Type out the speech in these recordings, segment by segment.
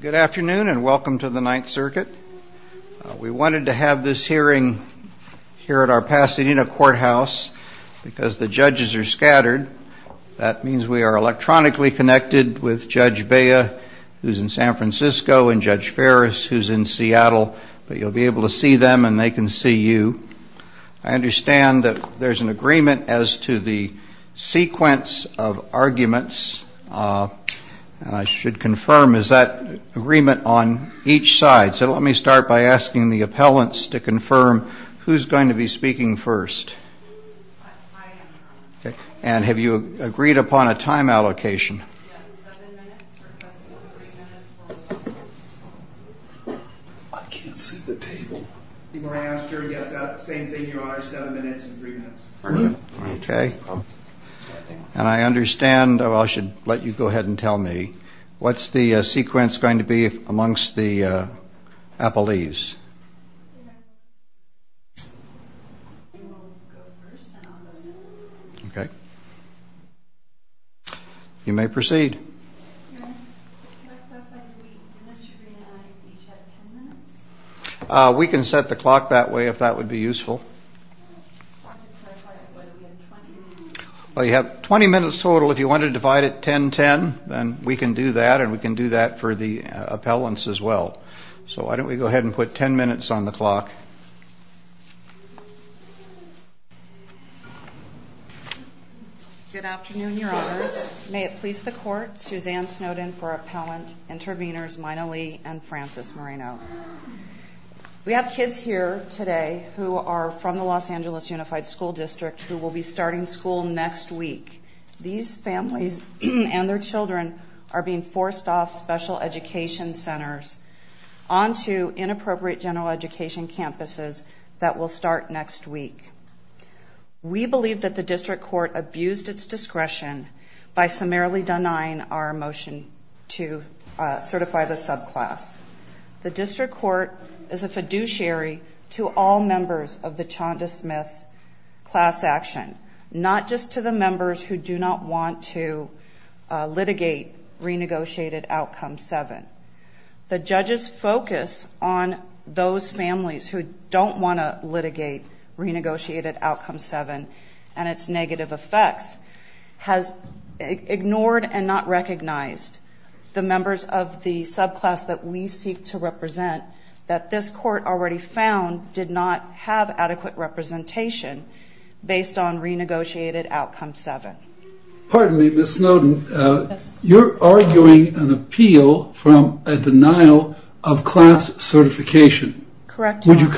Good afternoon and welcome to the Ninth Circuit. We wanted to have this hearing here at our Pasadena Courthouse because the judges are scattered. That means we are electronically connected with Judge Bea, who is in San Francisco, and Judge Ferris, who is in Seattle, but you will be able to see them and they can see you. I understand that there is an agreement as to the sequence of arguments. I should confirm, is that agreement on each side? So let me start by asking the appellants to confirm who is going to be speaking first. And have you agreed upon a time allocation? And I understand, I should let you go ahead and tell me, what is the sequence going to be amongst the appellees? Okay. You may proceed. We can set the clock that way if that would be useful. Well, you have 20 minutes total. If you want to divide it 10-10, then we can do that and we can do that for the appellants as well. So why don't we go ahead and put 10 minutes on the clock. Good afternoon, Your Honors. May it please the Court, Suzanne Snowden for Appellant, Intervenors Mina Lee and Francis Moreno. We have kids here today who are from the Los Angeles Unified School District who will be and their children are being forced off special education centers onto inappropriate general education campuses that will start next week. We believe that the District Court abused its discretion by summarily denying our motion to certify the subclass. The District Court is a fiduciary to all members of the Chanda Smith class action, not just to the members who do not want to litigate renegotiated outcome 7. The judge's focus on those families who don't want to litigate renegotiated outcome 7 and its negative effects has ignored and not recognized the members of the subclass that we seek to represent that this Court already found did not have adequate representation based on renegotiated outcome 7. Pardon me, Ms. Snowden, you're arguing an appeal from a denial of class certification. Correct. Would you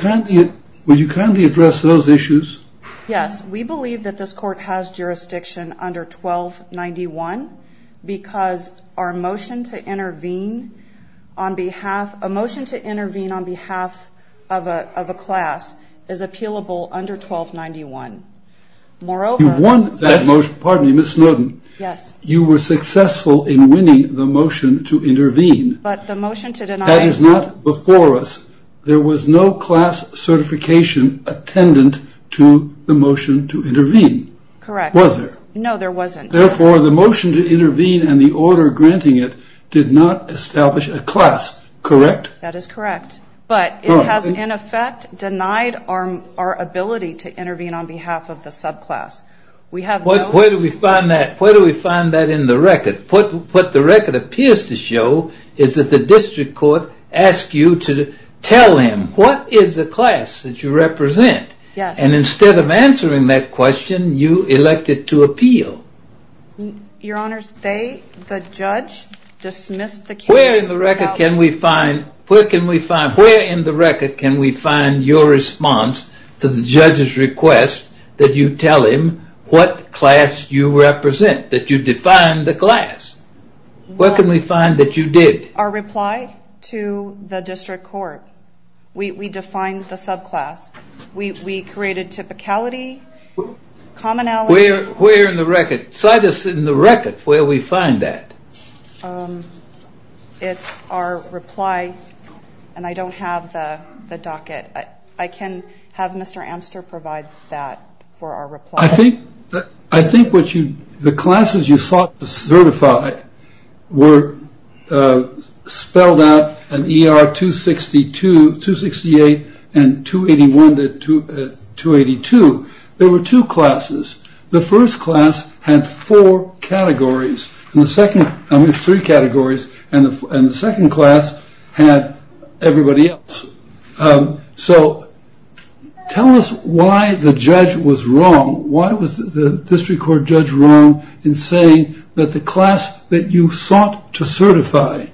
kindly address those issues? Yes, we believe that this Court has jurisdiction under 1291 because our motion to intervene on behalf of a class is appealable under 1291. You've won that motion. Pardon me, Ms. Snowden. Yes. You were successful in winning the motion to intervene. But the motion to deny. That is not before us. There was no class certification attendant to the motion to intervene. Correct. Was there? No, there wasn't. Therefore, the motion to intervene and the order granting it did not establish a class. Correct? That is correct. But it has, in effect, denied our ability to intervene on behalf of the subclass. Where do we find that? Where do we find that in the record? What the record appears to show is that the District Court asked you to tell him what is the class that you represent. Yes. And instead of answering that question, you elected to appeal. Your Honors, they, the judge, dismissed the case. Where in the record can we find, where can we find, where in the record can we find your response to the judge's request that you tell him what class you represent, that you define the class? Where can we find that you did? Our reply to the District Court. We defined the subclass. We created typicality, commonality. Where in the record, cite us in the record where we find that. It's our reply, and I don't have the docket. I can have Mr. Amster provide that for our reply. I think, I think what you, the classes you sought to certify were spelled out in ER 262, 268, and 281 to 282. There were two classes. The first class had four categories, and the second, there's three categories, and the second class had everybody else. So tell us why the judge was wrong. Why was the District Court judge wrong in saying that the class that you sought to certify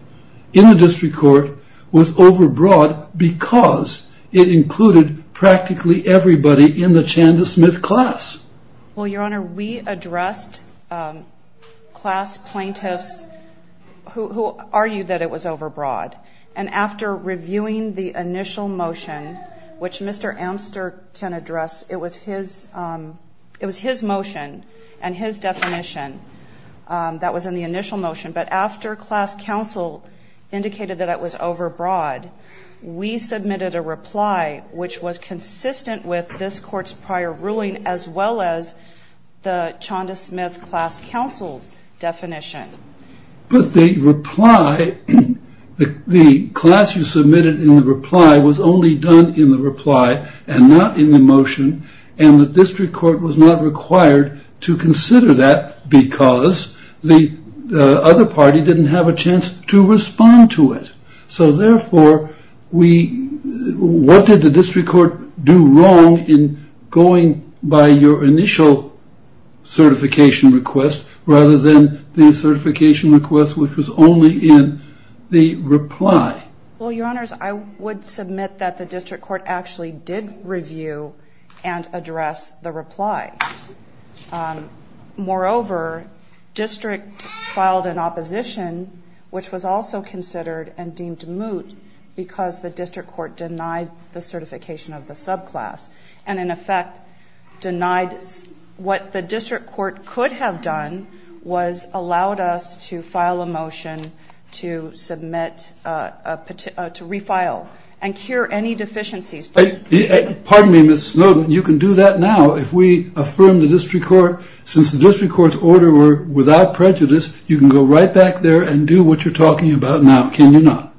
in the District Court was overbroad because it included practically everybody in the Who argued that it was overbroad? And after reviewing the initial motion, which Mr. Amster can address, it was his, it was his motion and his definition that was in the initial motion, but after class counsel indicated that it was overbroad, we submitted a reply which was consistent with this court's prior ruling as well as the Chanda Smith class counsel's definition. But the reply, the class you submitted in the reply was only done in the reply and not in the motion, and the District Court was not required to consider that because the other party didn't have a chance to respond to it. So therefore, we, what did the District Court do wrong in going by your initial certification request rather than the certification request which was only in the reply? Well, Your Honors, I would submit that the District Court actually did review and address the reply. Moreover, District filed an opposition, which was also considered and deemed moot because the District Court denied the certification of the subclass and in effect denied what the District Court could have done was allowed us to file a motion to submit, to refile and cure any deficiencies. Pardon me, Ms. Snowden, you can do that now if we affirm the District Court, since the District Court denied the certification of the subclass. So you can get back there and do what you're talking about now, can you not?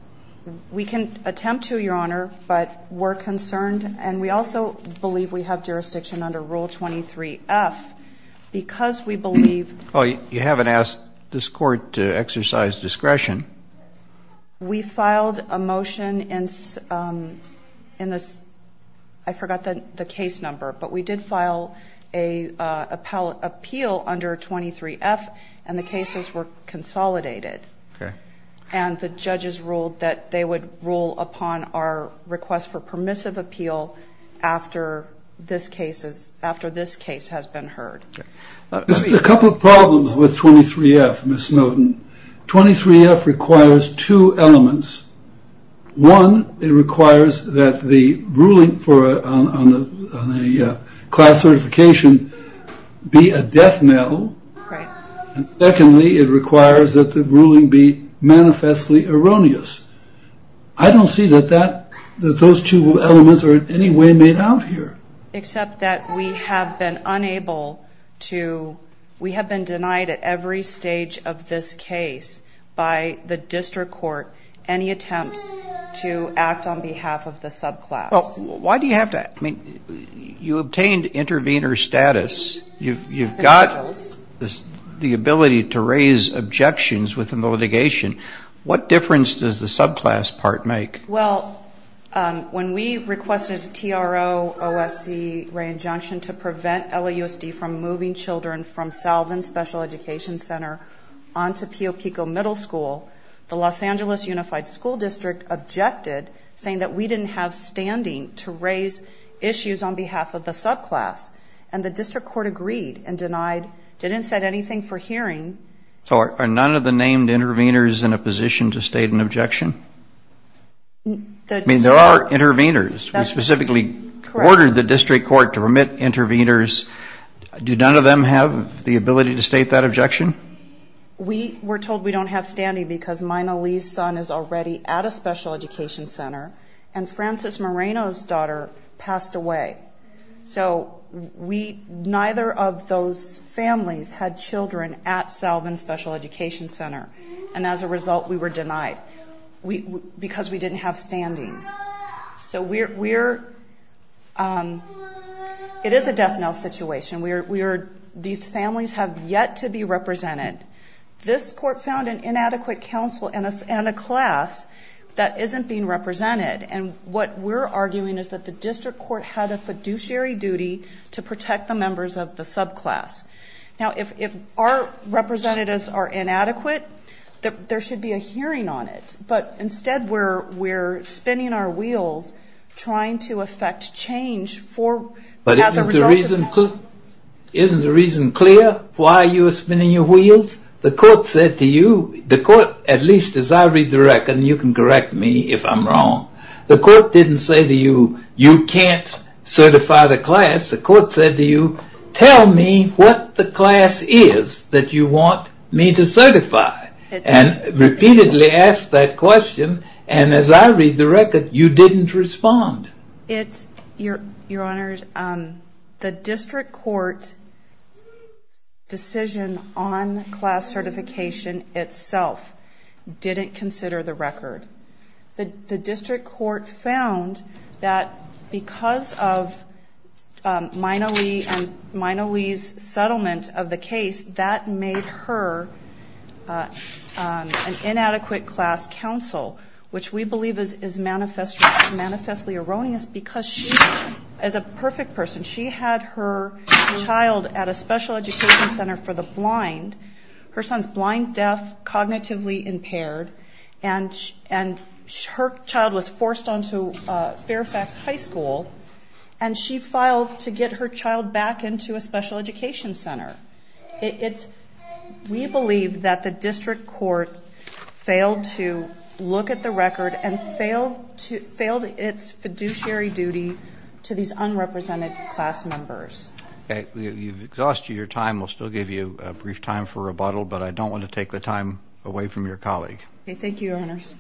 We can attempt to, Your Honor, but we're concerned and we also believe we have jurisdiction under Rule 23-F because we believe. Oh, you haven't asked this court to exercise discretion. We filed a motion in this, I forgot the case number, but we did file an appeal under 23-F and the cases were consolidated. Okay. And the judges ruled that they would rule upon our request for permissive appeal after this case has been heard. There's a couple of problems with 23-F, Ms. Snowden. 23-F requires two elements. One, it requires that the ruling on a class certification be a death metal. Right. And secondly, it requires that the ruling be manifestly erroneous. I don't see that those two elements are in any way made out here. Except that we have been unable to, we have been denied at every stage of this case by the District Court any attempts to act on behalf of the subclass. Well, why do you have to, I mean, you obtained intervener status. You've got the ability to raise objections within the litigation. What difference does the subclass part make? Well, when we requested TRO-OSC re-injunction to prevent LAUSD from moving children from Salvin Special Education Center on to Pio Pico Middle School, the Los Angeles Unified School District objected, saying that we didn't have standing to raise issues on behalf of the subclass. And the District Court agreed and denied, didn't set anything for hearing. So are none of the named interveners in a position to state an objection? I mean, there are interveners. We specifically ordered the District Court to permit interveners. Do none of them have the ability to state that objection? We were told we don't have standing because Mina Lee's son is already at a special education center and Francis Moreno's daughter passed away. So neither of those families had children at Salvin Special Education Center and as a result we were denied because we didn't have standing. So we're, it is a death knell situation. These families have yet to be represented. This court found an inadequate counsel and a class that isn't being represented and what we're arguing is that the District Court had a fiduciary duty to protect the members of the subclass. Now if our representatives are inadequate, there should be a hearing on it. But instead we're spinning our wheels trying to effect change for, as a result of that. Well, isn't the reason clear why you're spinning your wheels? The court said to you, the court, at least as I read the record, and you can correct me if I'm wrong, the court didn't say to you, you can't certify the class. The court said to you, tell me what the class is that you want me to certify. And repeatedly asked that question and as I read the record, you didn't respond. Your Honor, the District Court decision on class certification itself didn't consider the record. The District Court found that because of Mina Lee and Mina Lee's settlement of the case, that made her an inadequate class counsel. Which we believe is manifestly erroneous because she, as a perfect person, she had her child at a special education center for the blind, her son's blind, deaf, cognitively impaired, and her child was forced onto Fairfax High School and she filed to get her child back into a special education center. We believe that the District Court failed to look at the record and failed its fiduciary duty to these unrepresented class members. Okay, we've exhausted your time. We'll still give you a brief time for rebuttal, but I don't want to take the time away from your colleague. Thank you, Your Honors.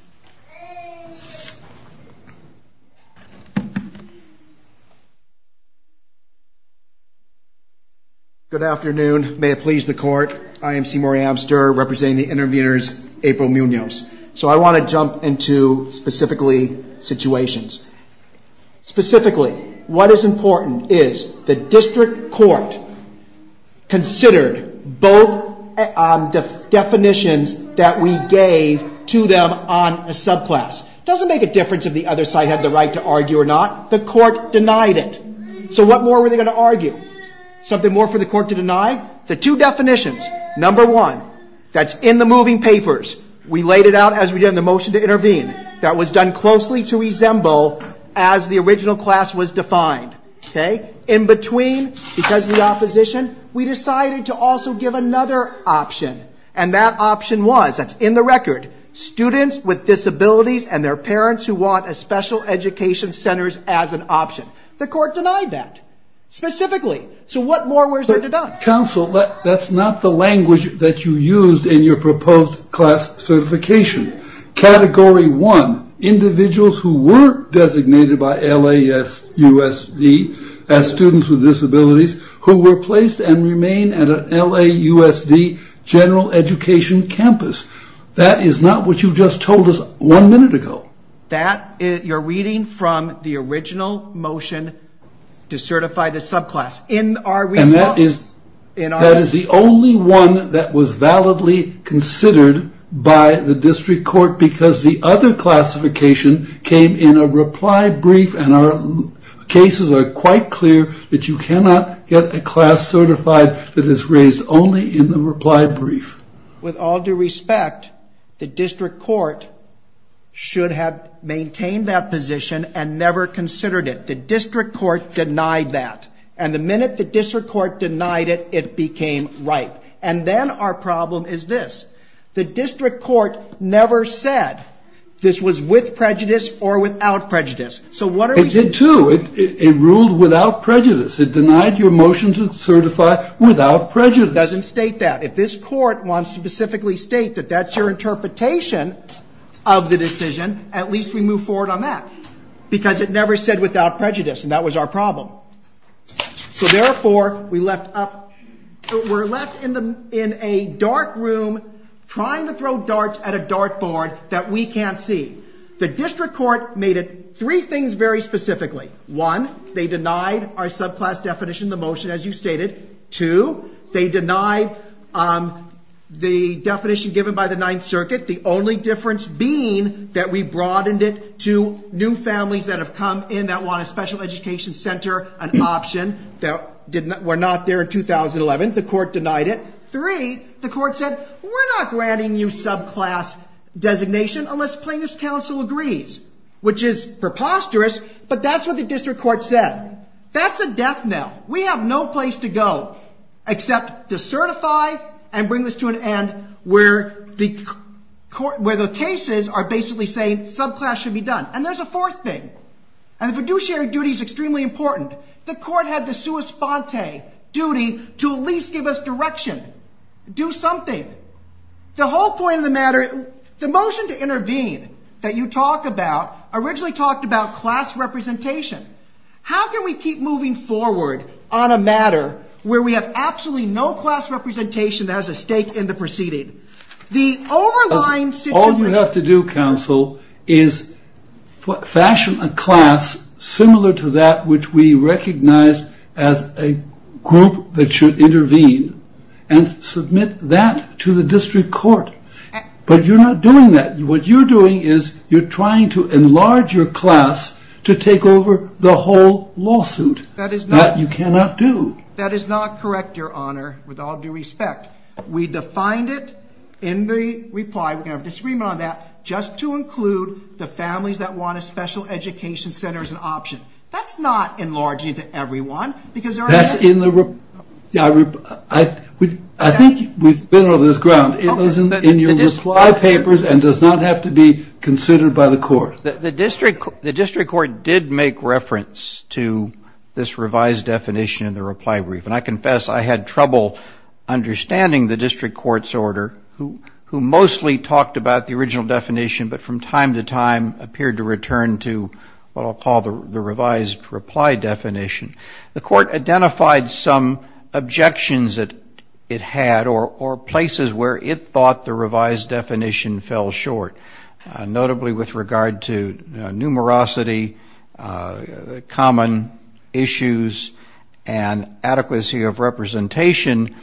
Good afternoon. May it please the Court. I am Seymour Amster, representing the interviewers, April Munoz. So I want to jump into, specifically, situations. Specifically, what is important is the District Court considered both definitions that we gave to them on a subclass. It doesn't make a difference if the other side had the right to argue or not. The Court denied it. So what more were they going to argue? Something more for the Court to deny? The two definitions, number one, that's in the moving papers, we laid it out as we did in the motion to intervene, that was done closely to resemble as the original class was defined. In between, because of the opposition, we decided to also give another option, and that option was, that's in the record, students with disabilities and their parents who want a special education center as an option. The Court denied that, specifically. So what more was there to deny? Counsel, that's not the language that you used in your proposed class certification. Category one, individuals who were designated by LAUSD as students with disabilities, who were placed and remain at a LAUSD general education campus. That is not what you just told us one minute ago. You're reading from the original motion to certify the subclass in our response. And that is the only one that was validly considered by the District Court because the other classification came in a reply brief and our cases are quite clear that you cannot get a class certified that is raised only in the reply brief. With all due respect, the District Court should have maintained that position and never considered it. The District Court denied that. And the minute the District Court denied it, it became ripe. And then our problem is this. The District Court never said this was with prejudice or without prejudice. It did, too. It ruled without prejudice. It denied your motion to certify without prejudice. It doesn't state that. If this Court wants to specifically state that that's your interpretation of the decision, at least we move forward on that. Because it never said without prejudice and that was our problem. So therefore, we're left in a dark room trying to throw darts at a dartboard that we can't see. The District Court made it three things very specifically. One, they denied our subclass definition of the motion as you stated. Two, they denied the definition given by the Ninth Circuit, the only difference being that we broadened it to new families that have come in that want a special education center, an option that were not there in 2011. The Court denied it. Three, the Court said we're not granting you subclass designation unless plaintiff's counsel agrees, which is preposterous, but that's what the District Court said. That's a death knell. We have no place to go except to certify and bring this to an end where the cases are basically saying subclass should be done. And there's a fourth thing. And the fiduciary duty is extremely important. The Court had the sua sponte duty to at least give us direction, do something. The whole point of the matter, the motion to intervene that you talk about originally talked about class representation. How can we keep moving forward on a matter where we have absolutely no class representation that has a stake in the proceeding? All you have to do, counsel, is fashion a class similar to that which we recognize as a group that should intervene and submit that to the District Court. But you're not doing that. What you're doing is you're trying to enlarge your class to take over the whole lawsuit. That you cannot do. That is not correct, Your Honor, with all due respect. We defined it in the reply. We're going to have a disagreement on that. Just to include the families that want a special education center as an option. That's not enlarging it to everyone, because there are others. That's in the reply. I think we've been over this ground. It was in your reply papers and does not have to be considered by the Court. The District Court did make reference to this revised definition in the reply brief. And I confess I had trouble understanding the District Court's order, who mostly talked about the original definition, but from time to time appeared to return to what I'll call the revised reply definition. The Court identified some objections that it had or places where it thought the revised definition fell short, notably with regard to numerosity, common issues, and adequacy of representation,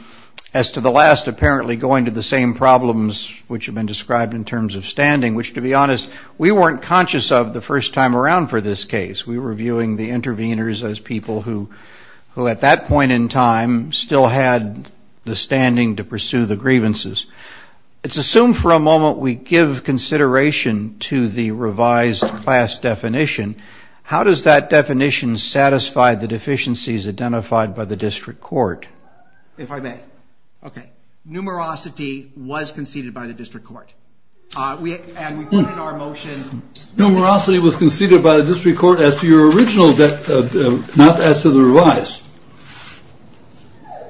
as to the last apparently going to the same problems which have been described in terms of standing. Which, to be honest, we weren't conscious of the first time around for this case. We were viewing the intervenors as people who at that point in time still had the standing to pursue the grievances. It's assumed for a moment we give consideration to the revised class definition. How does that definition satisfy the deficiencies identified by the District Court? If I may. OK. Numerosity was conceded by the District Court. And we put in our motion... Numerosity was conceded by the District Court as to your original, not as to the revised.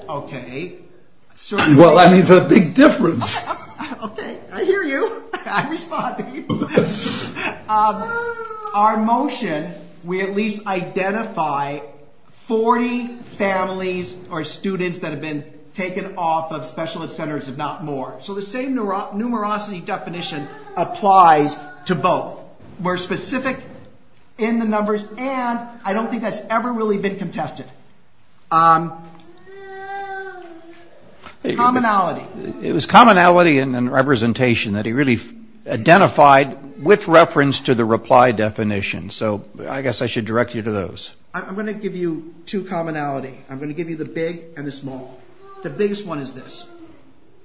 OK. Well, I mean, it's a big difference. OK. I hear you. I respond to you. Our motion, we at least identify 40 families or students that have been taken off of specialist centers, if not more. So the same numerosity definition applies to both. We're specific in the numbers, and I don't think that's ever really been contested. Commonality. It was commonality and representation that he really identified with reference to the reply definition. So I guess I should direct you to those. I'm going to give you two commonality. I'm going to give you the big and the small. The biggest one is this.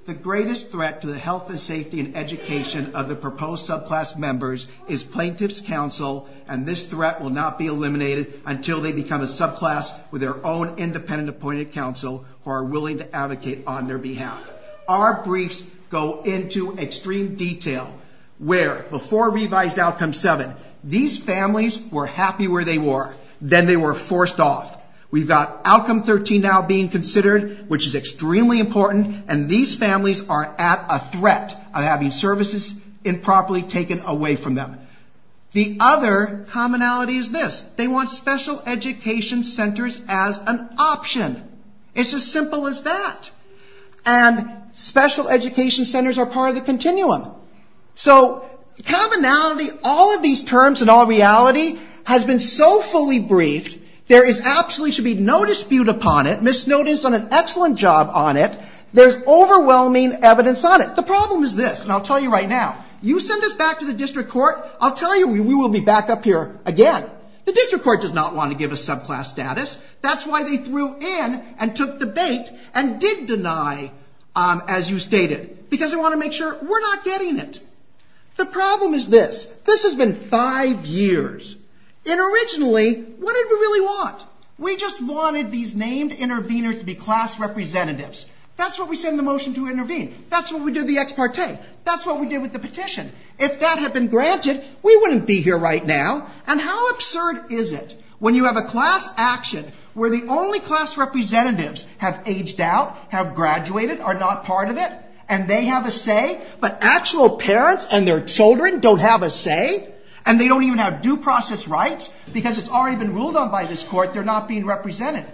The greatest threat to the health and safety and education of the proposed subclass members is plaintiff's counsel, and this threat will not be eliminated until they become a subclass with their own independent appointed counsel who are willing to advocate on their behalf. Our briefs go into extreme detail where, before revised outcome 7, these families were happy where they were. Then they were forced off. We've got outcome 13 now being considered, which is extremely important. And these families are at a threat of having services improperly taken away from them. The other commonality is this. They want special education centers as an option. It's as simple as that. And special education centers are part of the continuum. So commonality, all of these terms and all reality, has been so fully briefed, there absolutely should be no dispute upon it, misnoticed on an excellent job on it. There's overwhelming evidence on it. The problem is this, and I'll tell you right now. You send us back to the district court, I'll tell you we will be back up here again. The district court does not want to give us subclass status. That's why they threw in and took the bait and did deny, as you stated, because they want to make sure we're not getting it. The problem is this. This has been five years. And originally, what did we really want? We just wanted these named interveners to be class representatives. That's what we said in the motion to intervene. That's what we did with the ex parte. That's what we did with the petition. If that had been granted, we wouldn't be here right now. And how absurd is it when you have a class action where the only class representatives have aged out, have graduated, are not part of it, and they have a say, but actual parents and their children don't have a say? And they don't even have due process rights? Because it's already been ruled on by this court, they're not being represented.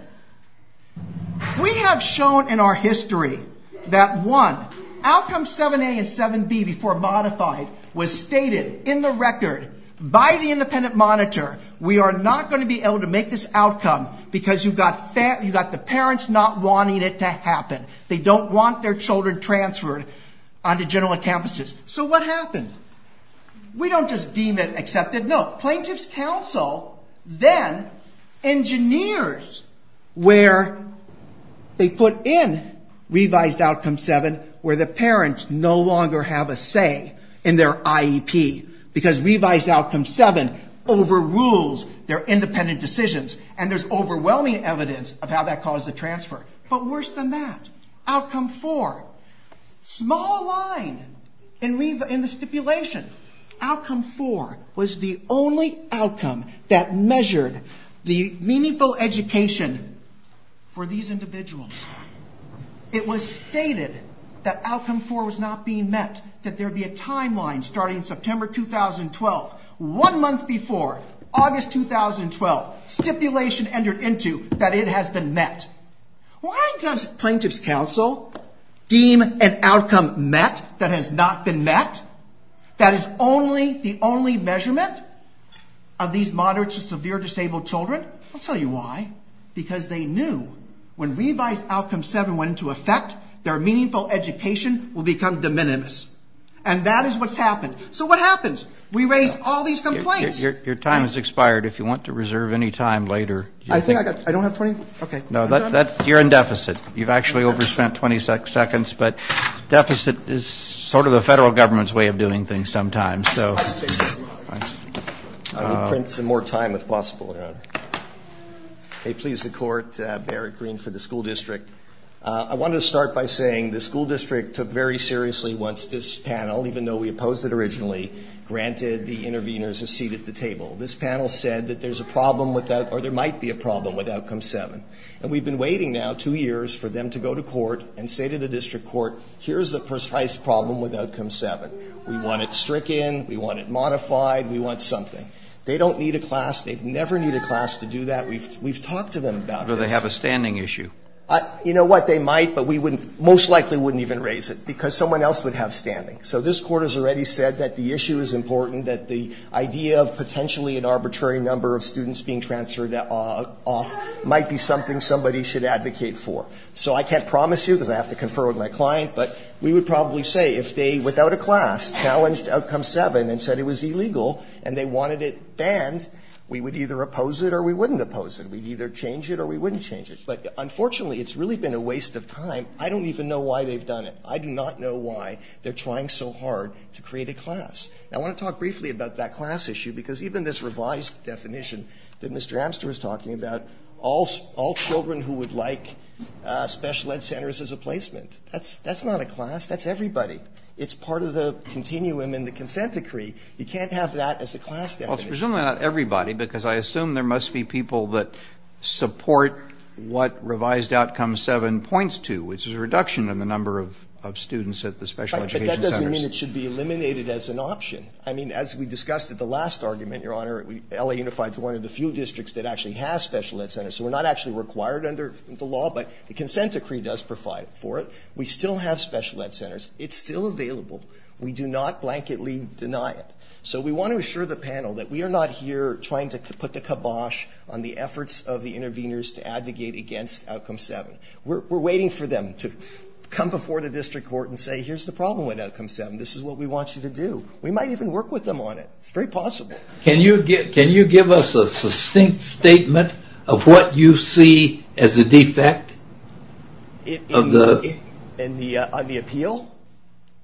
We have shown in our history that, one, outcome 7A and 7B before modified was stated in the record by the independent monitor, we are not going to be able to make this outcome because you've got the parents not wanting it to happen. They don't want their children transferred onto general campuses. So what happened? We don't just deem it accepted. No. Plaintiff's counsel then engineers where they put in revised outcome 7 where the parents no longer have a say in their IEP because revised outcome 7 overrules their independent decisions, and there's overwhelming evidence of how that caused the transfer. But worse than that, outcome 4, small line in the stipulation, outcome 4 was the only outcome that measured the meaningful education for these individuals. It was stated that outcome 4 was not being met, that there would be a timeline starting September 2012. One month before, August 2012, stipulation entered into that it has been met. Why does plaintiff's counsel deem an outcome met that has not been met? That is the only measurement of these moderate to severe disabled children? I'll tell you why. Because they knew when revised outcome 7 went into effect, their meaningful education would become de minimis. And that is what's happened. So what happens? We raise all these complaints. Your time has expired. If you want to reserve any time later. I don't have 20? Okay. You're in deficit. You've actually overspent 20 seconds. But deficit is sort of the Federal Government's way of doing things sometimes. I need to print some more time if possible, Your Honor. May it please the Court, Barrett Green for the school district. I wanted to start by saying the school district took very seriously once this panel, even though we opposed it originally, granted the interveners a seat at the table. This panel said that there's a problem with that or there might be a problem with outcome 7. And we've been waiting now two years for them to go to court and say to the district court, here's the precise problem with outcome 7. We want it stricken. We want it modified. We want something. They don't need a class. They never need a class to do that. We've talked to them about this. Do they have a standing issue? You know what? They might, but we wouldn't, most likely wouldn't even raise it because someone else would have standing. So this Court has already said that the issue is important, that the idea of potentially an arbitrary number of students being transferred off might be something somebody should advocate for. So I can't promise you, because I have to confer with my client, but we would probably say if they, without a class, challenged outcome 7 and said it was illegal and they wanted it banned, we would either oppose it or we wouldn't oppose it. We'd either change it or we wouldn't change it. But unfortunately, it's really been a waste of time. I don't even know why they've done it. I do not know why they're trying so hard to create a class. Now, I want to talk briefly about that class issue, because even this revised definition that Mr. Amster is talking about, all children who would like special ed centers as a placement, that's not a class. That's everybody. It's part of the continuum in the consent decree. You can't have that as a class definition. Well, it's presumably not everybody, because I assume there must be people that of students at the special education centers. But that doesn't mean it should be eliminated as an option. I mean, as we discussed at the last argument, Your Honor, L.A. Unified is one of the few districts that actually has special ed centers, so we're not actually required under the law, but the consent decree does provide for it. We still have special ed centers. It's still available. We do not blanketly deny it. So we want to assure the panel that we are not here trying to put the kibosh on the efforts of the interveners to advocate against outcome 7. We're waiting for them to come before the district court and say, here's the problem with outcome 7. This is what we want you to do. We might even work with them on it. It's very possible. Can you give us a succinct statement of what you see as a defect? On the appeal?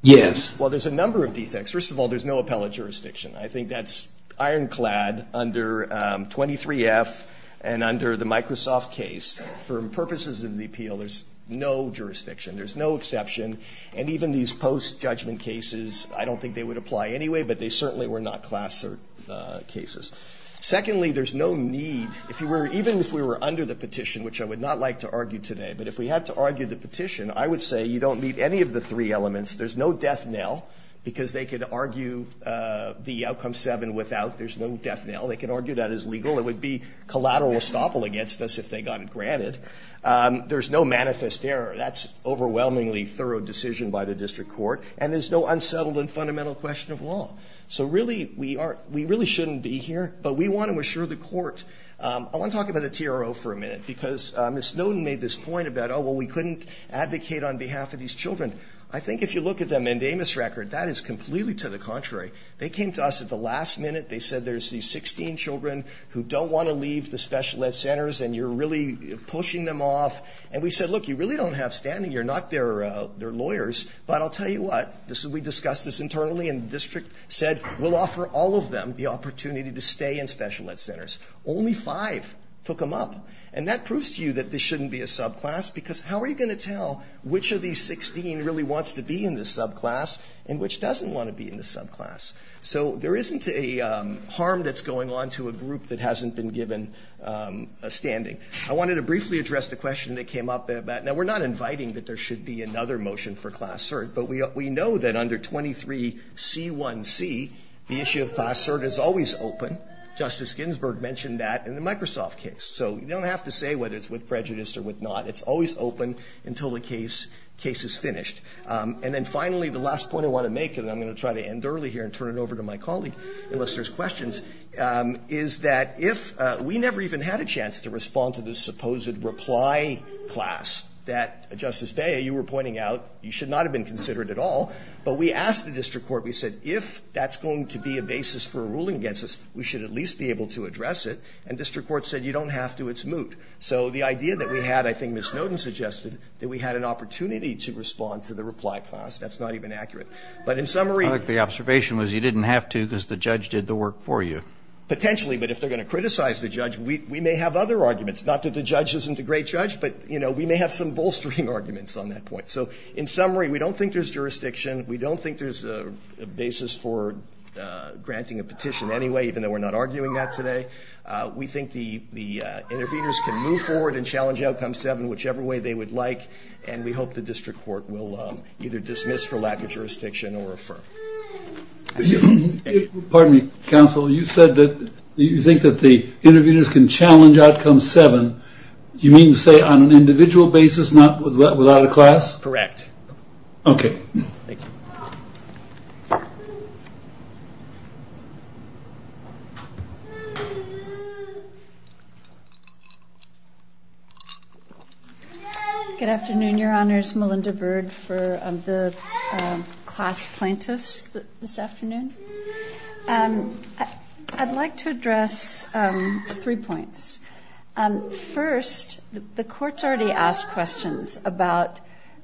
Yes. Well, there's a number of defects. First of all, there's no appellate jurisdiction. I think that's ironclad under 23F and under the Microsoft case. For purposes of the appeal, there's no jurisdiction. There's no exception. And even these post-judgment cases, I don't think they would apply anyway, but they certainly were not class cases. Secondly, there's no need, even if we were under the petition, which I would not like to argue today, but if we had to argue the petition, I would say you don't meet any of the three elements. There's no death knell, because they could argue the outcome 7 without. There's no death knell. They could argue that as legal. It would be collateral estoppel against us if they got it granted. There's no manifest error. That's overwhelmingly thorough decision by the district court. And there's no unsettled and fundamental question of law. So really, we really shouldn't be here. But we want to assure the court. I want to talk about the TRO for a minute, because Ms. Norton made this point about, oh, well, we couldn't advocate on behalf of these children. I think if you look at the Mendamis record, that is completely to the contrary. They came to us at the last minute. They said there's these 16 children who don't want to leave the special ed centers and you're really pushing them off. And we said, look, you really don't have standing. You're not their lawyers. But I'll tell you what. We discussed this internally and the district said we'll offer all of them the opportunity to stay in special ed centers. Only five took them up. And that proves to you that this shouldn't be a subclass, because how are you going to tell which of these 16 really wants to be in this subclass and which doesn't want to be in this subclass? So there isn't a harm that's going on to a group that hasn't been given a standing. I wanted to briefly address the question that came up. Now, we're not inviting that there should be another motion for Class Cert, but we know that under 23c1c the issue of Class Cert is always open. Justice Ginsburg mentioned that in the Microsoft case. So you don't have to say whether it's with prejudice or with not. It's always open until the case is finished. And then finally, the last point I want to make, and I'm going to try to end early here and turn it over to my colleague unless there's questions, is that if we never even had a chance to respond to this supposed reply class that, Justice Beyer, you were pointing out you should not have been considered at all. But we asked the district court, we said if that's going to be a basis for a ruling against us, we should at least be able to address it. And district court said you don't have to. It's moot. So the idea that we had, I think Ms. Noden suggested, that we had an opportunity to respond to the reply class. That's not even accurate. But in summary. I think the observation was you didn't have to because the judge did the work for you. Potentially. But if they're going to criticize the judge, we may have other arguments. Not that the judge isn't a great judge, but, you know, we may have some bolstering arguments on that point. So in summary, we don't think there's jurisdiction. We don't think there's a basis for granting a petition anyway, even though we're not arguing that today. We think the interveners can move forward and challenge outcome seven whichever way they would like. And we hope the district court will either dismiss for lack of jurisdiction or affirm. Pardon me, counsel. You said that you think that the interveners can challenge outcome seven. Do you mean to say on an individual basis, not without a class? Correct. Okay. Thank you. Good afternoon, Your Honors. Melinda Bird for the class plaintiffs this afternoon. I'd like to address three points. First, the courts already asked questions about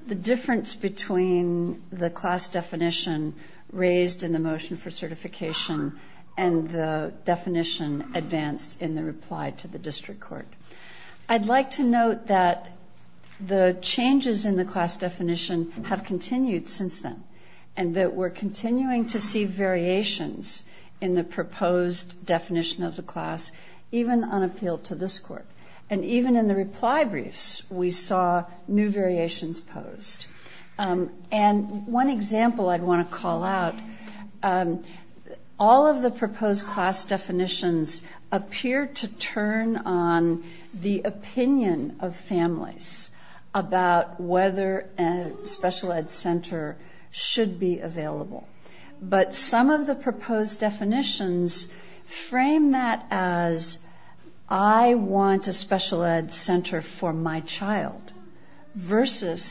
the difference between the class definition raised in the motion for certification and the definition advanced in the reply to the district court. I'd like to note that the changes in the class definition have continued since then, and that we're continuing to see variations in the proposed definition of the class, even on appeal to this court. And even in the reply briefs, we saw new variations posed. And one example I'd want to call out, all of the proposed class definitions appear to turn on the opinion of families about whether a special ed center should be available. But some of the proposed definitions frame that as, I want a special ed center for my child, versus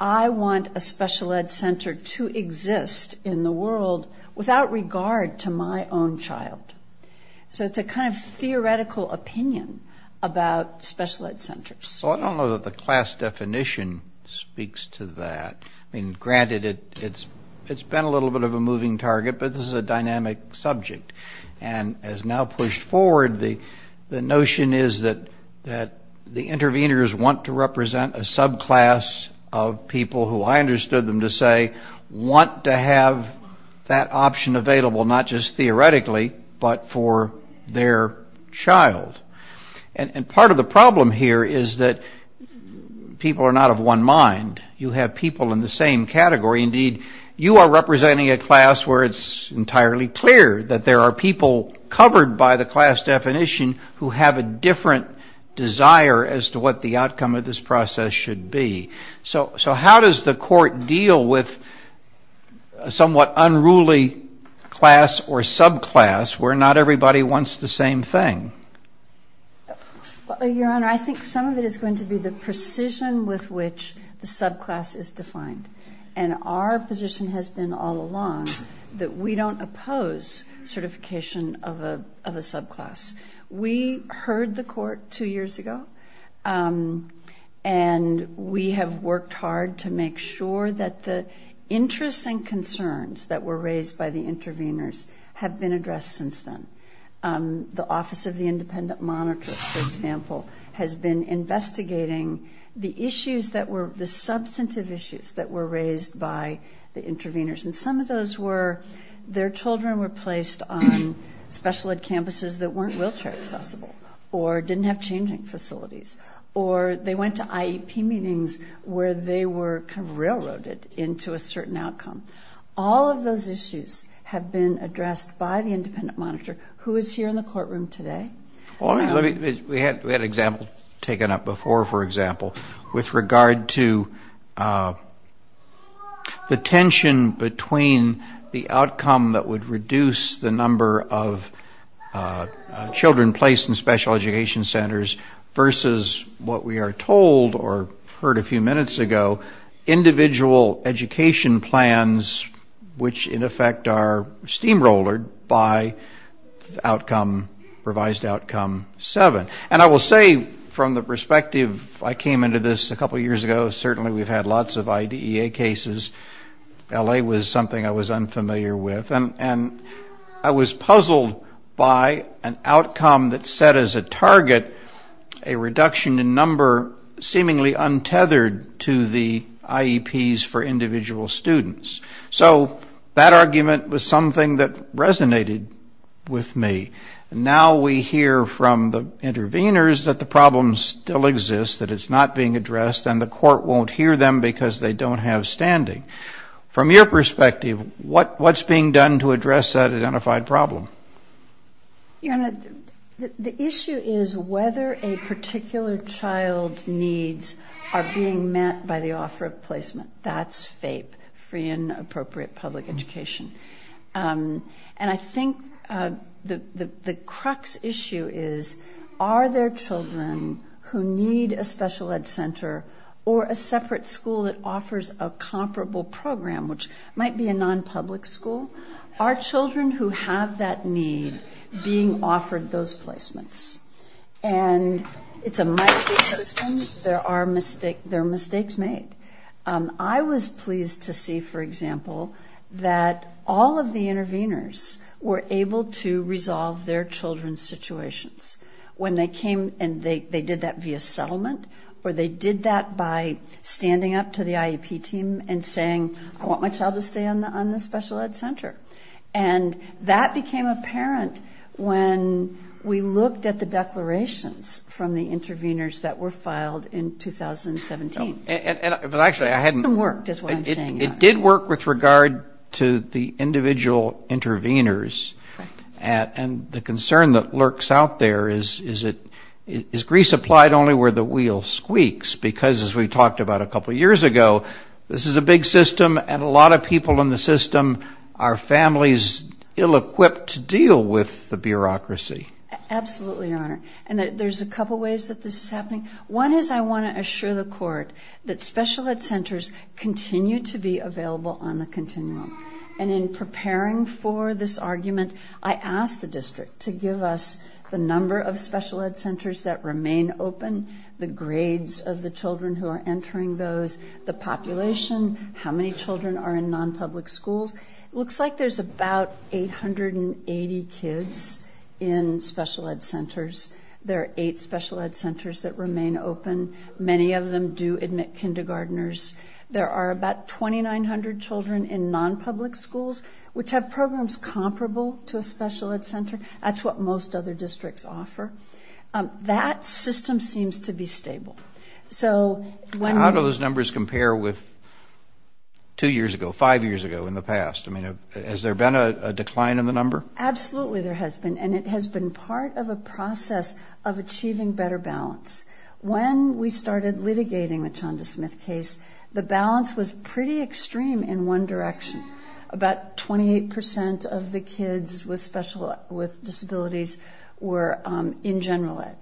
I want a special ed center to exist in the world without regard to my own child. So it's a kind of theoretical opinion about special ed centers. Well, I don't know that the class definition speaks to that. I mean, granted, it's been a little bit of a moving target, but this is a dynamic subject. And as now pushed forward, the notion is that the interveners want to represent a subclass of people who, I understood them to say, want to have that option available not just theoretically, but for their child. And part of the problem here is that people are not of one mind. You have people in the same category. Indeed, you are representing a class where it's entirely clear that there are people covered by the class definition who have a different desire as to what the outcome of this process should be. So how does the Court deal with a somewhat unruly class or subclass where not everybody wants the same thing? Your Honor, I think some of it is going to be the precision with which the subclass is defined. And our position has been all along that we don't oppose certification of a subclass. We heard the Court two years ago, and we have worked hard to make sure that the interests and concerns that were raised by the interveners have been addressed since then. The Office of the Independent Monitor, for example, has been investigating the issues that were the substantive issues that were raised by the interveners. And some of those were their children were placed on special ed campuses that weren't wheelchair accessible, or didn't have changing facilities, or they went to IEP meetings where they were kind of railroaded into a certain outcome. All of those issues have been addressed by the Independent Monitor, who is here in the courtroom today. We had an example taken up before, for example, with regard to the tension between the outcome that would reduce the number of children placed in special education centers versus what we are told or heard a few minutes ago, individual education plans, which, in effect, are steamrolled by revised Outcome 7. And I will say, from the perspective I came into this a couple of years ago, certainly we've had lots of IDEA cases. L.A. was something I was unfamiliar with, and I was puzzled by an outcome that set as a target a reduction in number seemingly untethered to the IEPs for individual students. So that argument was something that resonated with me. Now we hear from the interveners that the problem still exists, that it's not being addressed, and the court won't hear them because they don't have standing. From your perspective, what's being done to address that identified problem? Your Honor, the issue is whether a particular child's needs are being met by the offer of placement. That's FAPE, Free and Appropriate Public Education. And I think the crux issue is, are there children who need a special ed center or a separate school that offers a comparable program, which might be a non-public school? Are children who have that need being offered those placements? And it's a mighty system. There are mistakes made. I was pleased to see, for example, that all of the interveners were able to resolve their children's situations. When they came and they did that via settlement or they did that by standing up to the IEP team and saying, I want my child to stay on the special ed center. And that became apparent when we looked at the declarations from the interveners that were filed in 2017. The system worked, is what I'm saying. It did work with regard to the individual interveners. And the concern that lurks out there is, is grease applied only where the wheel squeaks? Because, as we talked about a couple years ago, this is a big system, and a lot of people in the system are families ill-equipped to deal with the bureaucracy. Absolutely, Your Honor. And there's a couple ways that this is happening. One is I want to assure the Court that special ed centers continue to be available on the continuum. And in preparing for this argument, I asked the district to give us the number of special ed centers that remain open, the grades of the children who are entering those, the population, how many children are in non-public schools. It looks like there's about 880 kids in special ed centers. There are eight special ed centers that remain open. Many of them do admit kindergartners. There are about 2,900 children in non-public schools, which have programs comparable to a special ed center. That's what most other districts offer. That system seems to be stable. How do those numbers compare with two years ago, five years ago in the past? I mean, has there been a decline in the number? Absolutely there has been, and it has been part of a process of achieving better balance. When we started litigating the Chanda Smith case, the balance was pretty extreme in one direction. About 28% of the kids with disabilities were in general ed.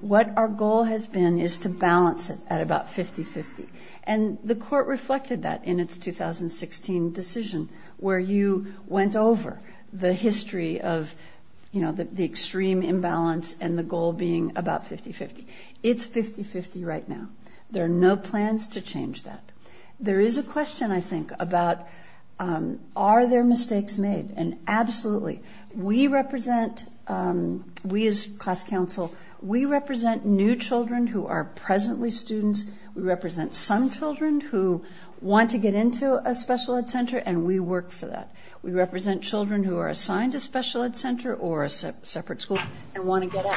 What our goal has been is to balance it at about 50-50. And the court reflected that in its 2016 decision, where you went over the history of the extreme imbalance and the goal being about 50-50. It's 50-50 right now. There are no plans to change that. There is a question, I think, about are there mistakes made, and absolutely. We represent, we as class council, we represent new children who are presently students. We represent some children who want to get into a special ed center, and we work for that. We represent children who are assigned a special ed center or a separate school and want to get out.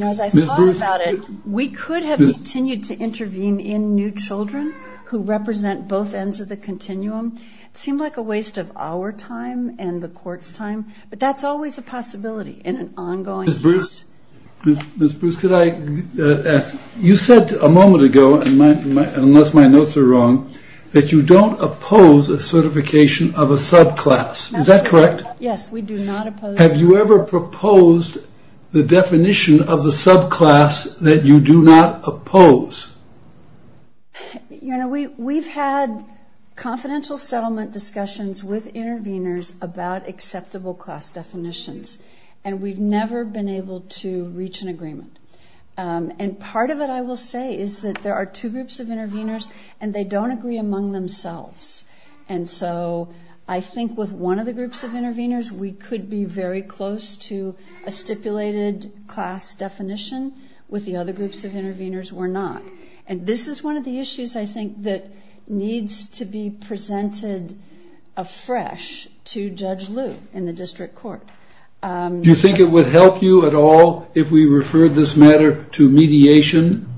As I thought about it, we could have continued to intervene in new children who represent both ends of the continuum. It seemed like a waste of our time and the court's time, but that's always a possibility in an ongoing case. Ms. Bruce, could I ask, you said a moment ago, unless my notes are wrong, that you don't oppose a certification of a subclass. Is that correct? Yes, we do not oppose. Have you ever proposed the definition of the subclass that you do not oppose? You know, we've had confidential settlement discussions with interveners about acceptable class definitions, and we've never been able to reach an agreement. And part of it, I will say, is that there are two groups of interveners, and they don't agree among themselves. And so I think with one of the groups of interveners, we could be very close to a stipulated class definition. With the other groups of interveners, we're not. And this is one of the issues, I think, that needs to be presented afresh to Judge Liu in the district court. Do you think it would help you at all if we referred this matter to mediation?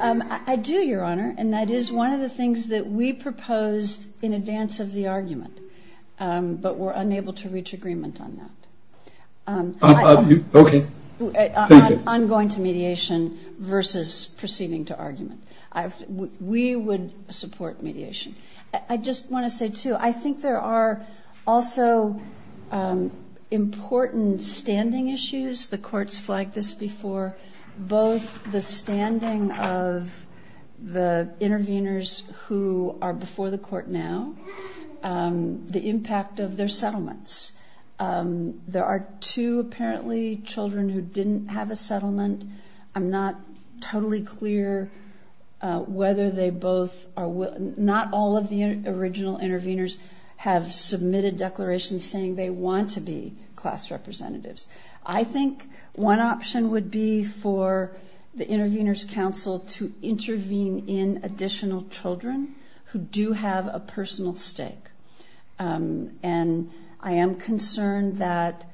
I do, Your Honor, and that is one of the things that we proposed in advance of the argument, but were unable to reach agreement on that. Okay. Thank you. On going to mediation versus proceeding to argument. We would support mediation. I just want to say, too, I think there are also important standing issues. The courts flagged this before. Both the standing of the interveners who are before the court now, the impact of their settlements. There are two, apparently, children who didn't have a settlement. I'm not totally clear whether they both are— not all of the original interveners have submitted declarations saying they want to be class representatives. I think one option would be for the Interveners' Council to intervene in additional children who do have a personal stake. And I am concerned that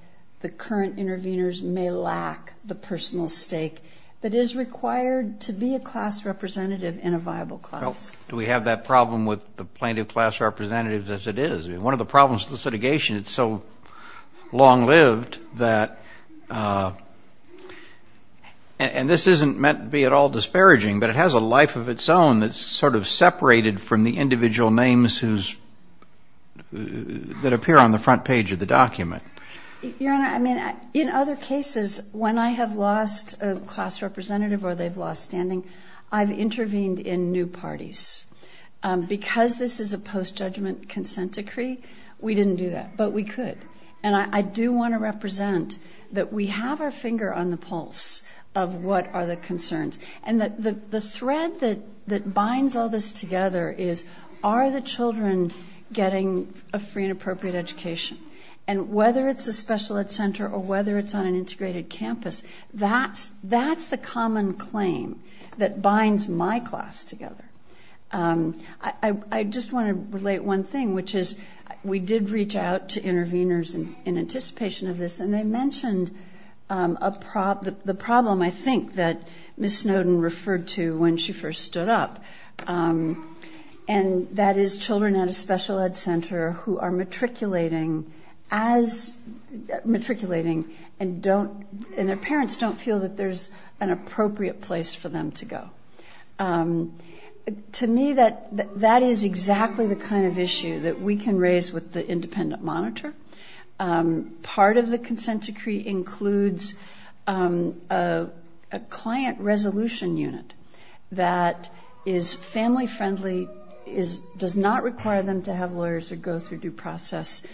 the current interveners may lack the personal stake that is required to be a class representative in a viable class. Do we have that problem with the plaintiff class representatives as it is? One of the problems with the litigation, it's so long-lived that— and this isn't meant to be at all disparaging, but it has a life of its own that's sort of separated from the individual names that appear on the front page of the document. Your Honor, I mean, in other cases, when I have lost a class representative or they've lost standing, I've intervened in new parties. Because this is a post-judgment consent decree, we didn't do that. But we could. And I do want to represent that we have our finger on the pulse of what are the concerns. And the thread that binds all this together is, are the children getting a free and appropriate education? And whether it's a special ed center or whether it's on an integrated campus, that's the common claim that binds my class together. I just want to relate one thing, which is we did reach out to interveners in anticipation of this, and they mentioned the problem, I think, that Ms. Snowden referred to when she first stood up, and that is children at a special ed center who are matriculating and don't— and their parents don't feel that there's an appropriate place for them to go. To me, that is exactly the kind of issue that we can raise with the independent monitor. Part of the consent decree includes a client resolution unit that is family-friendly, does not require them to have lawyers or go through due process.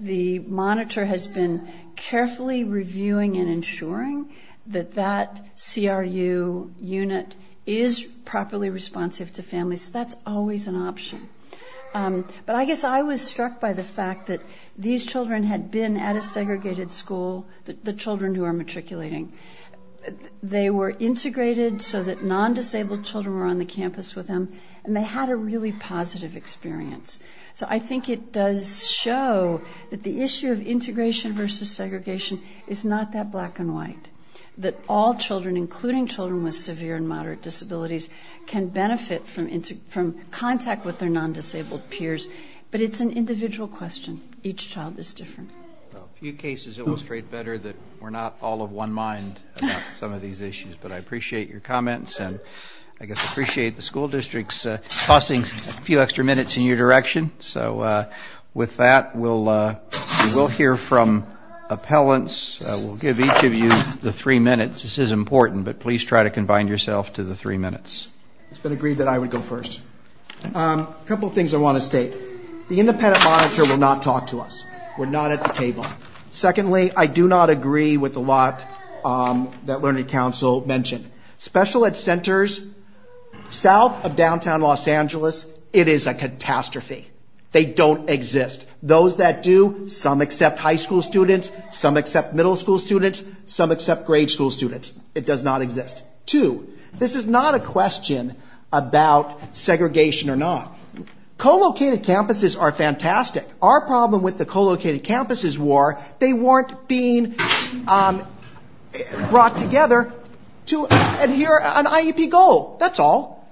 The monitor has been carefully reviewing and ensuring that that CRU unit is properly responsive to families. So that's always an option. But I guess I was struck by the fact that these children had been at a segregated school, the children who are matriculating. They were integrated so that non-disabled children were on the campus with them, and they had a really positive experience. So I think it does show that the issue of integration versus segregation is not that black and white, that all children, including children with severe and moderate disabilities, can benefit from contact with their non-disabled peers. But it's an individual question. Each child is different. A few cases illustrate better that we're not all of one mind about some of these issues, but I appreciate your comments, and I guess appreciate the school districts tossing a few extra minutes in your direction. So with that, we will hear from appellants. We'll give each of you the three minutes. This is important, but please try to combine yourself to the three minutes. It's been agreed that I would go first. A couple of things I want to state. The independent monitor will not talk to us. We're not at the table. Secondly, I do not agree with a lot that Learning Council mentioned. Special ed centers south of downtown Los Angeles, it is a catastrophe. They don't exist. Those that do, some accept high school students, some accept middle school students, some accept grade school students. It does not exist. Two, this is not a question about segregation or not. Co-located campuses are fantastic. Our problem with the co-located campuses war, they weren't being brought together to adhere an IEP goal. That's all.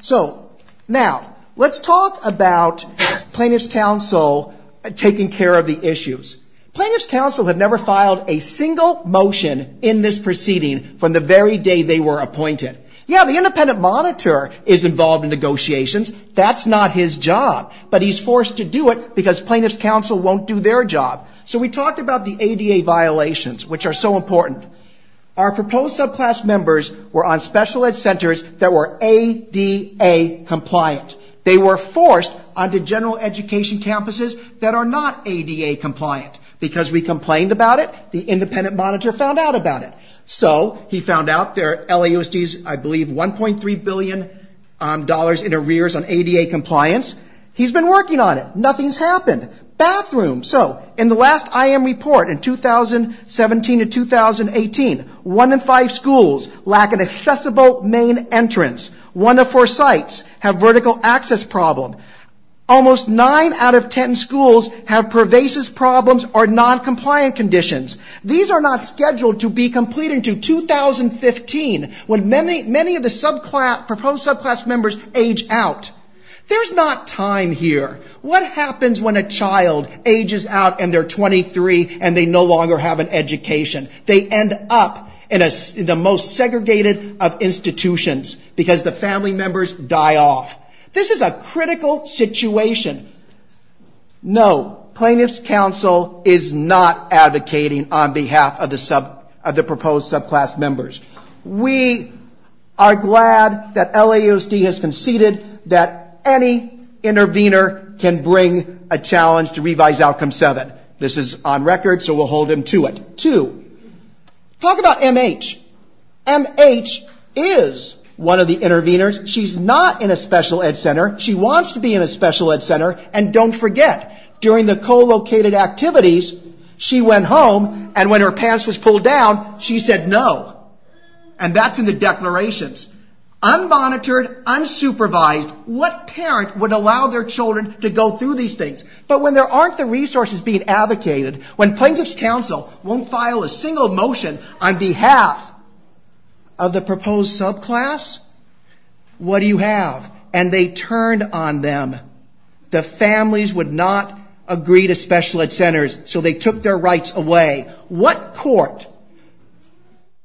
So now, let's talk about plaintiff's counsel taking care of the issues. Plaintiff's counsel have never filed a single motion in this proceeding from the very day they were appointed. Yeah, the independent monitor is involved in negotiations. That's not his job. But he's forced to do it because plaintiff's counsel won't do their job. So we talked about the ADA violations, which are so important. Our proposed subclass members were on special ed centers that were ADA compliant. They were forced onto general education campuses that are not ADA compliant. Because we complained about it, the independent monitor found out about it. So he found out there are LAUSDs, I believe $1.3 billion in arrears on ADA compliance. He's been working on it. Nothing's happened. Bathrooms. So in the last IM report in 2017 to 2018, one in five schools lack an accessible main entrance. One of four sites have vertical access problem. Almost nine out of ten schools have pervasive problems or non-compliant conditions. These are not scheduled to be completed until 2015, when many of the proposed subclass members age out. There's not time here. What happens when a child ages out and they're 23 and they no longer have an education? They end up in the most segregated of institutions because the family members die off. This is a critical situation. No. Plaintiff's counsel is not advocating on behalf of the proposed subclass members. We are glad that LAUSD has conceded that any intervener can bring a challenge to revise outcome 7. This is on record, so we'll hold him to it. Two. Talk about MH. MH is one of the interveners. She's not in a special ed center. She wants to be in a special ed center. And don't forget, during the co-located activities, she went home and when her pants were pulled down, she said no. And that's in the declarations. Unmonitored, unsupervised, what parent would allow their children to go through these things? But when there aren't the resources being advocated, when plaintiff's counsel won't file a single motion on behalf of the proposed subclass, what do you have? And they turned on them. The families would not agree to special ed centers, so they took their rights away. What court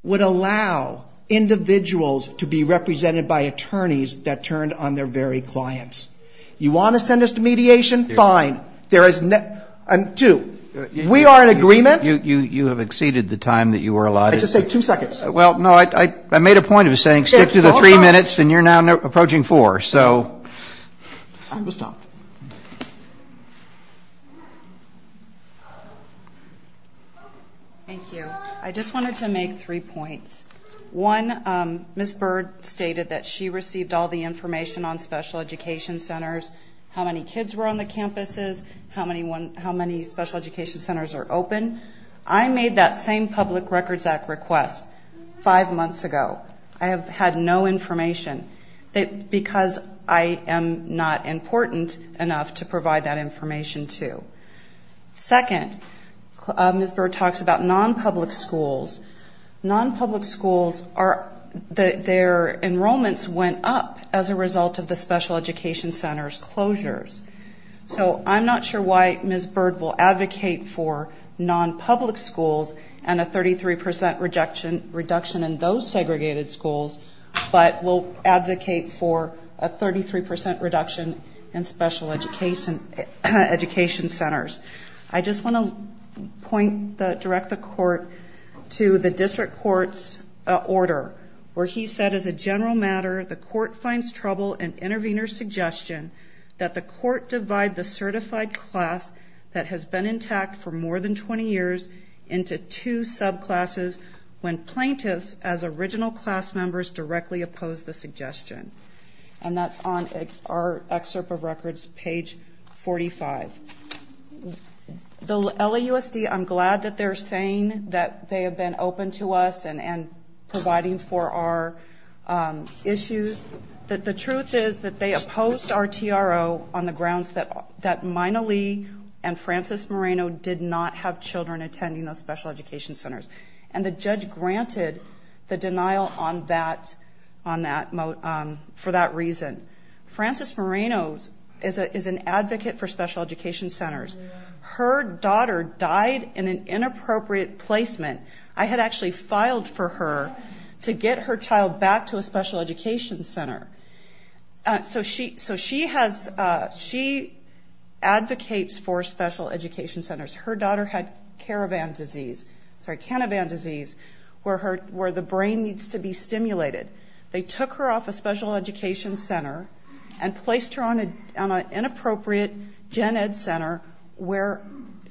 would allow individuals to be represented by attorneys that turned on their very clients? You want to send us to mediation? Fine. Two. We are in agreement. You have exceeded the time that you were allotted. I just said two seconds. Well, no, I made a point of saying stick to the three minutes and you're now approaching four. Thank you. I just wanted to make three points. One, Ms. Bird stated that she received all the information on special education centers, how many kids were on the campuses, how many special education centers are open. I made that same Public Records Act request five months ago. I have had no information because I am not important enough to provide that information to. Second, Ms. Bird talks about non-public schools. Non-public schools, their enrollments went up as a result of the special education centers' closures. So I'm not sure why Ms. Bird will advocate for non-public schools and a 33% reduction in those segregated schools, but will advocate for a 33% reduction in special education centers. I just want to point, direct the court to the district court's order where he said, as a general matter, the court finds trouble in intervener's suggestion that the court should not divide the certified class that has been intact for more than 20 years into two subclasses when plaintiffs as original class members directly oppose the suggestion. And that's on our excerpt of records, page 45. The LAUSD, I'm glad that they're saying that they have been open to us and providing for our issues. The truth is that they opposed our TRO on the grounds that Mina Lee and Francis Moreno did not have children attending those special education centers. And the judge granted the denial on that, for that reason. Francis Moreno is an advocate for special education centers. Her daughter died in an inappropriate placement. I had actually filed for her to get her child back to a special education center. So she has, she advocates for special education centers. Her daughter had caravan disease, sorry, cannabis disease, where the brain needs to be stimulated. They took her off a special education center and placed her on an inappropriate gen ed center where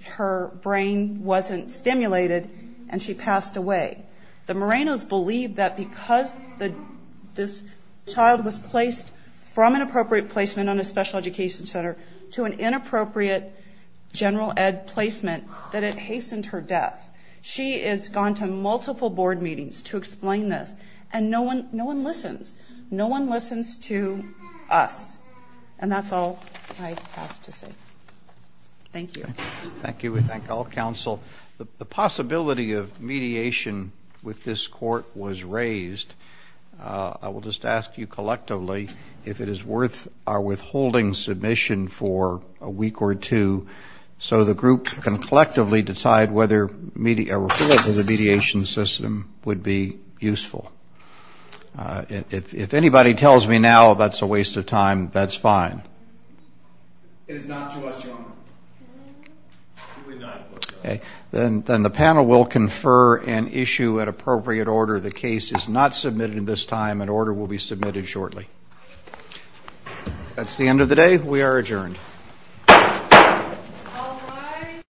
her brain wasn't stimulated and she had to be hospitalized and she passed away. The Morenos believe that because this child was placed from an appropriate placement on a special education center to an inappropriate general ed placement that it hastened her death. She has gone to multiple board meetings to explain this and no one listens. No one listens to us. And that's all I have to say. Thank you. Thank you. We thank all counsel. The possibility of mediation with this court was raised. I will just ask you collectively if it is worth our withholding submission for a week or two so the group can collectively decide whether a referral to the mediation system would be useful. If anybody tells me now that's a waste of time, that's fine. It is not to us, Your Honor. Then the panel will confer and issue an appropriate order. The case is not submitted at this time. An order will be submitted shortly. That's the end of the day. We are adjourned.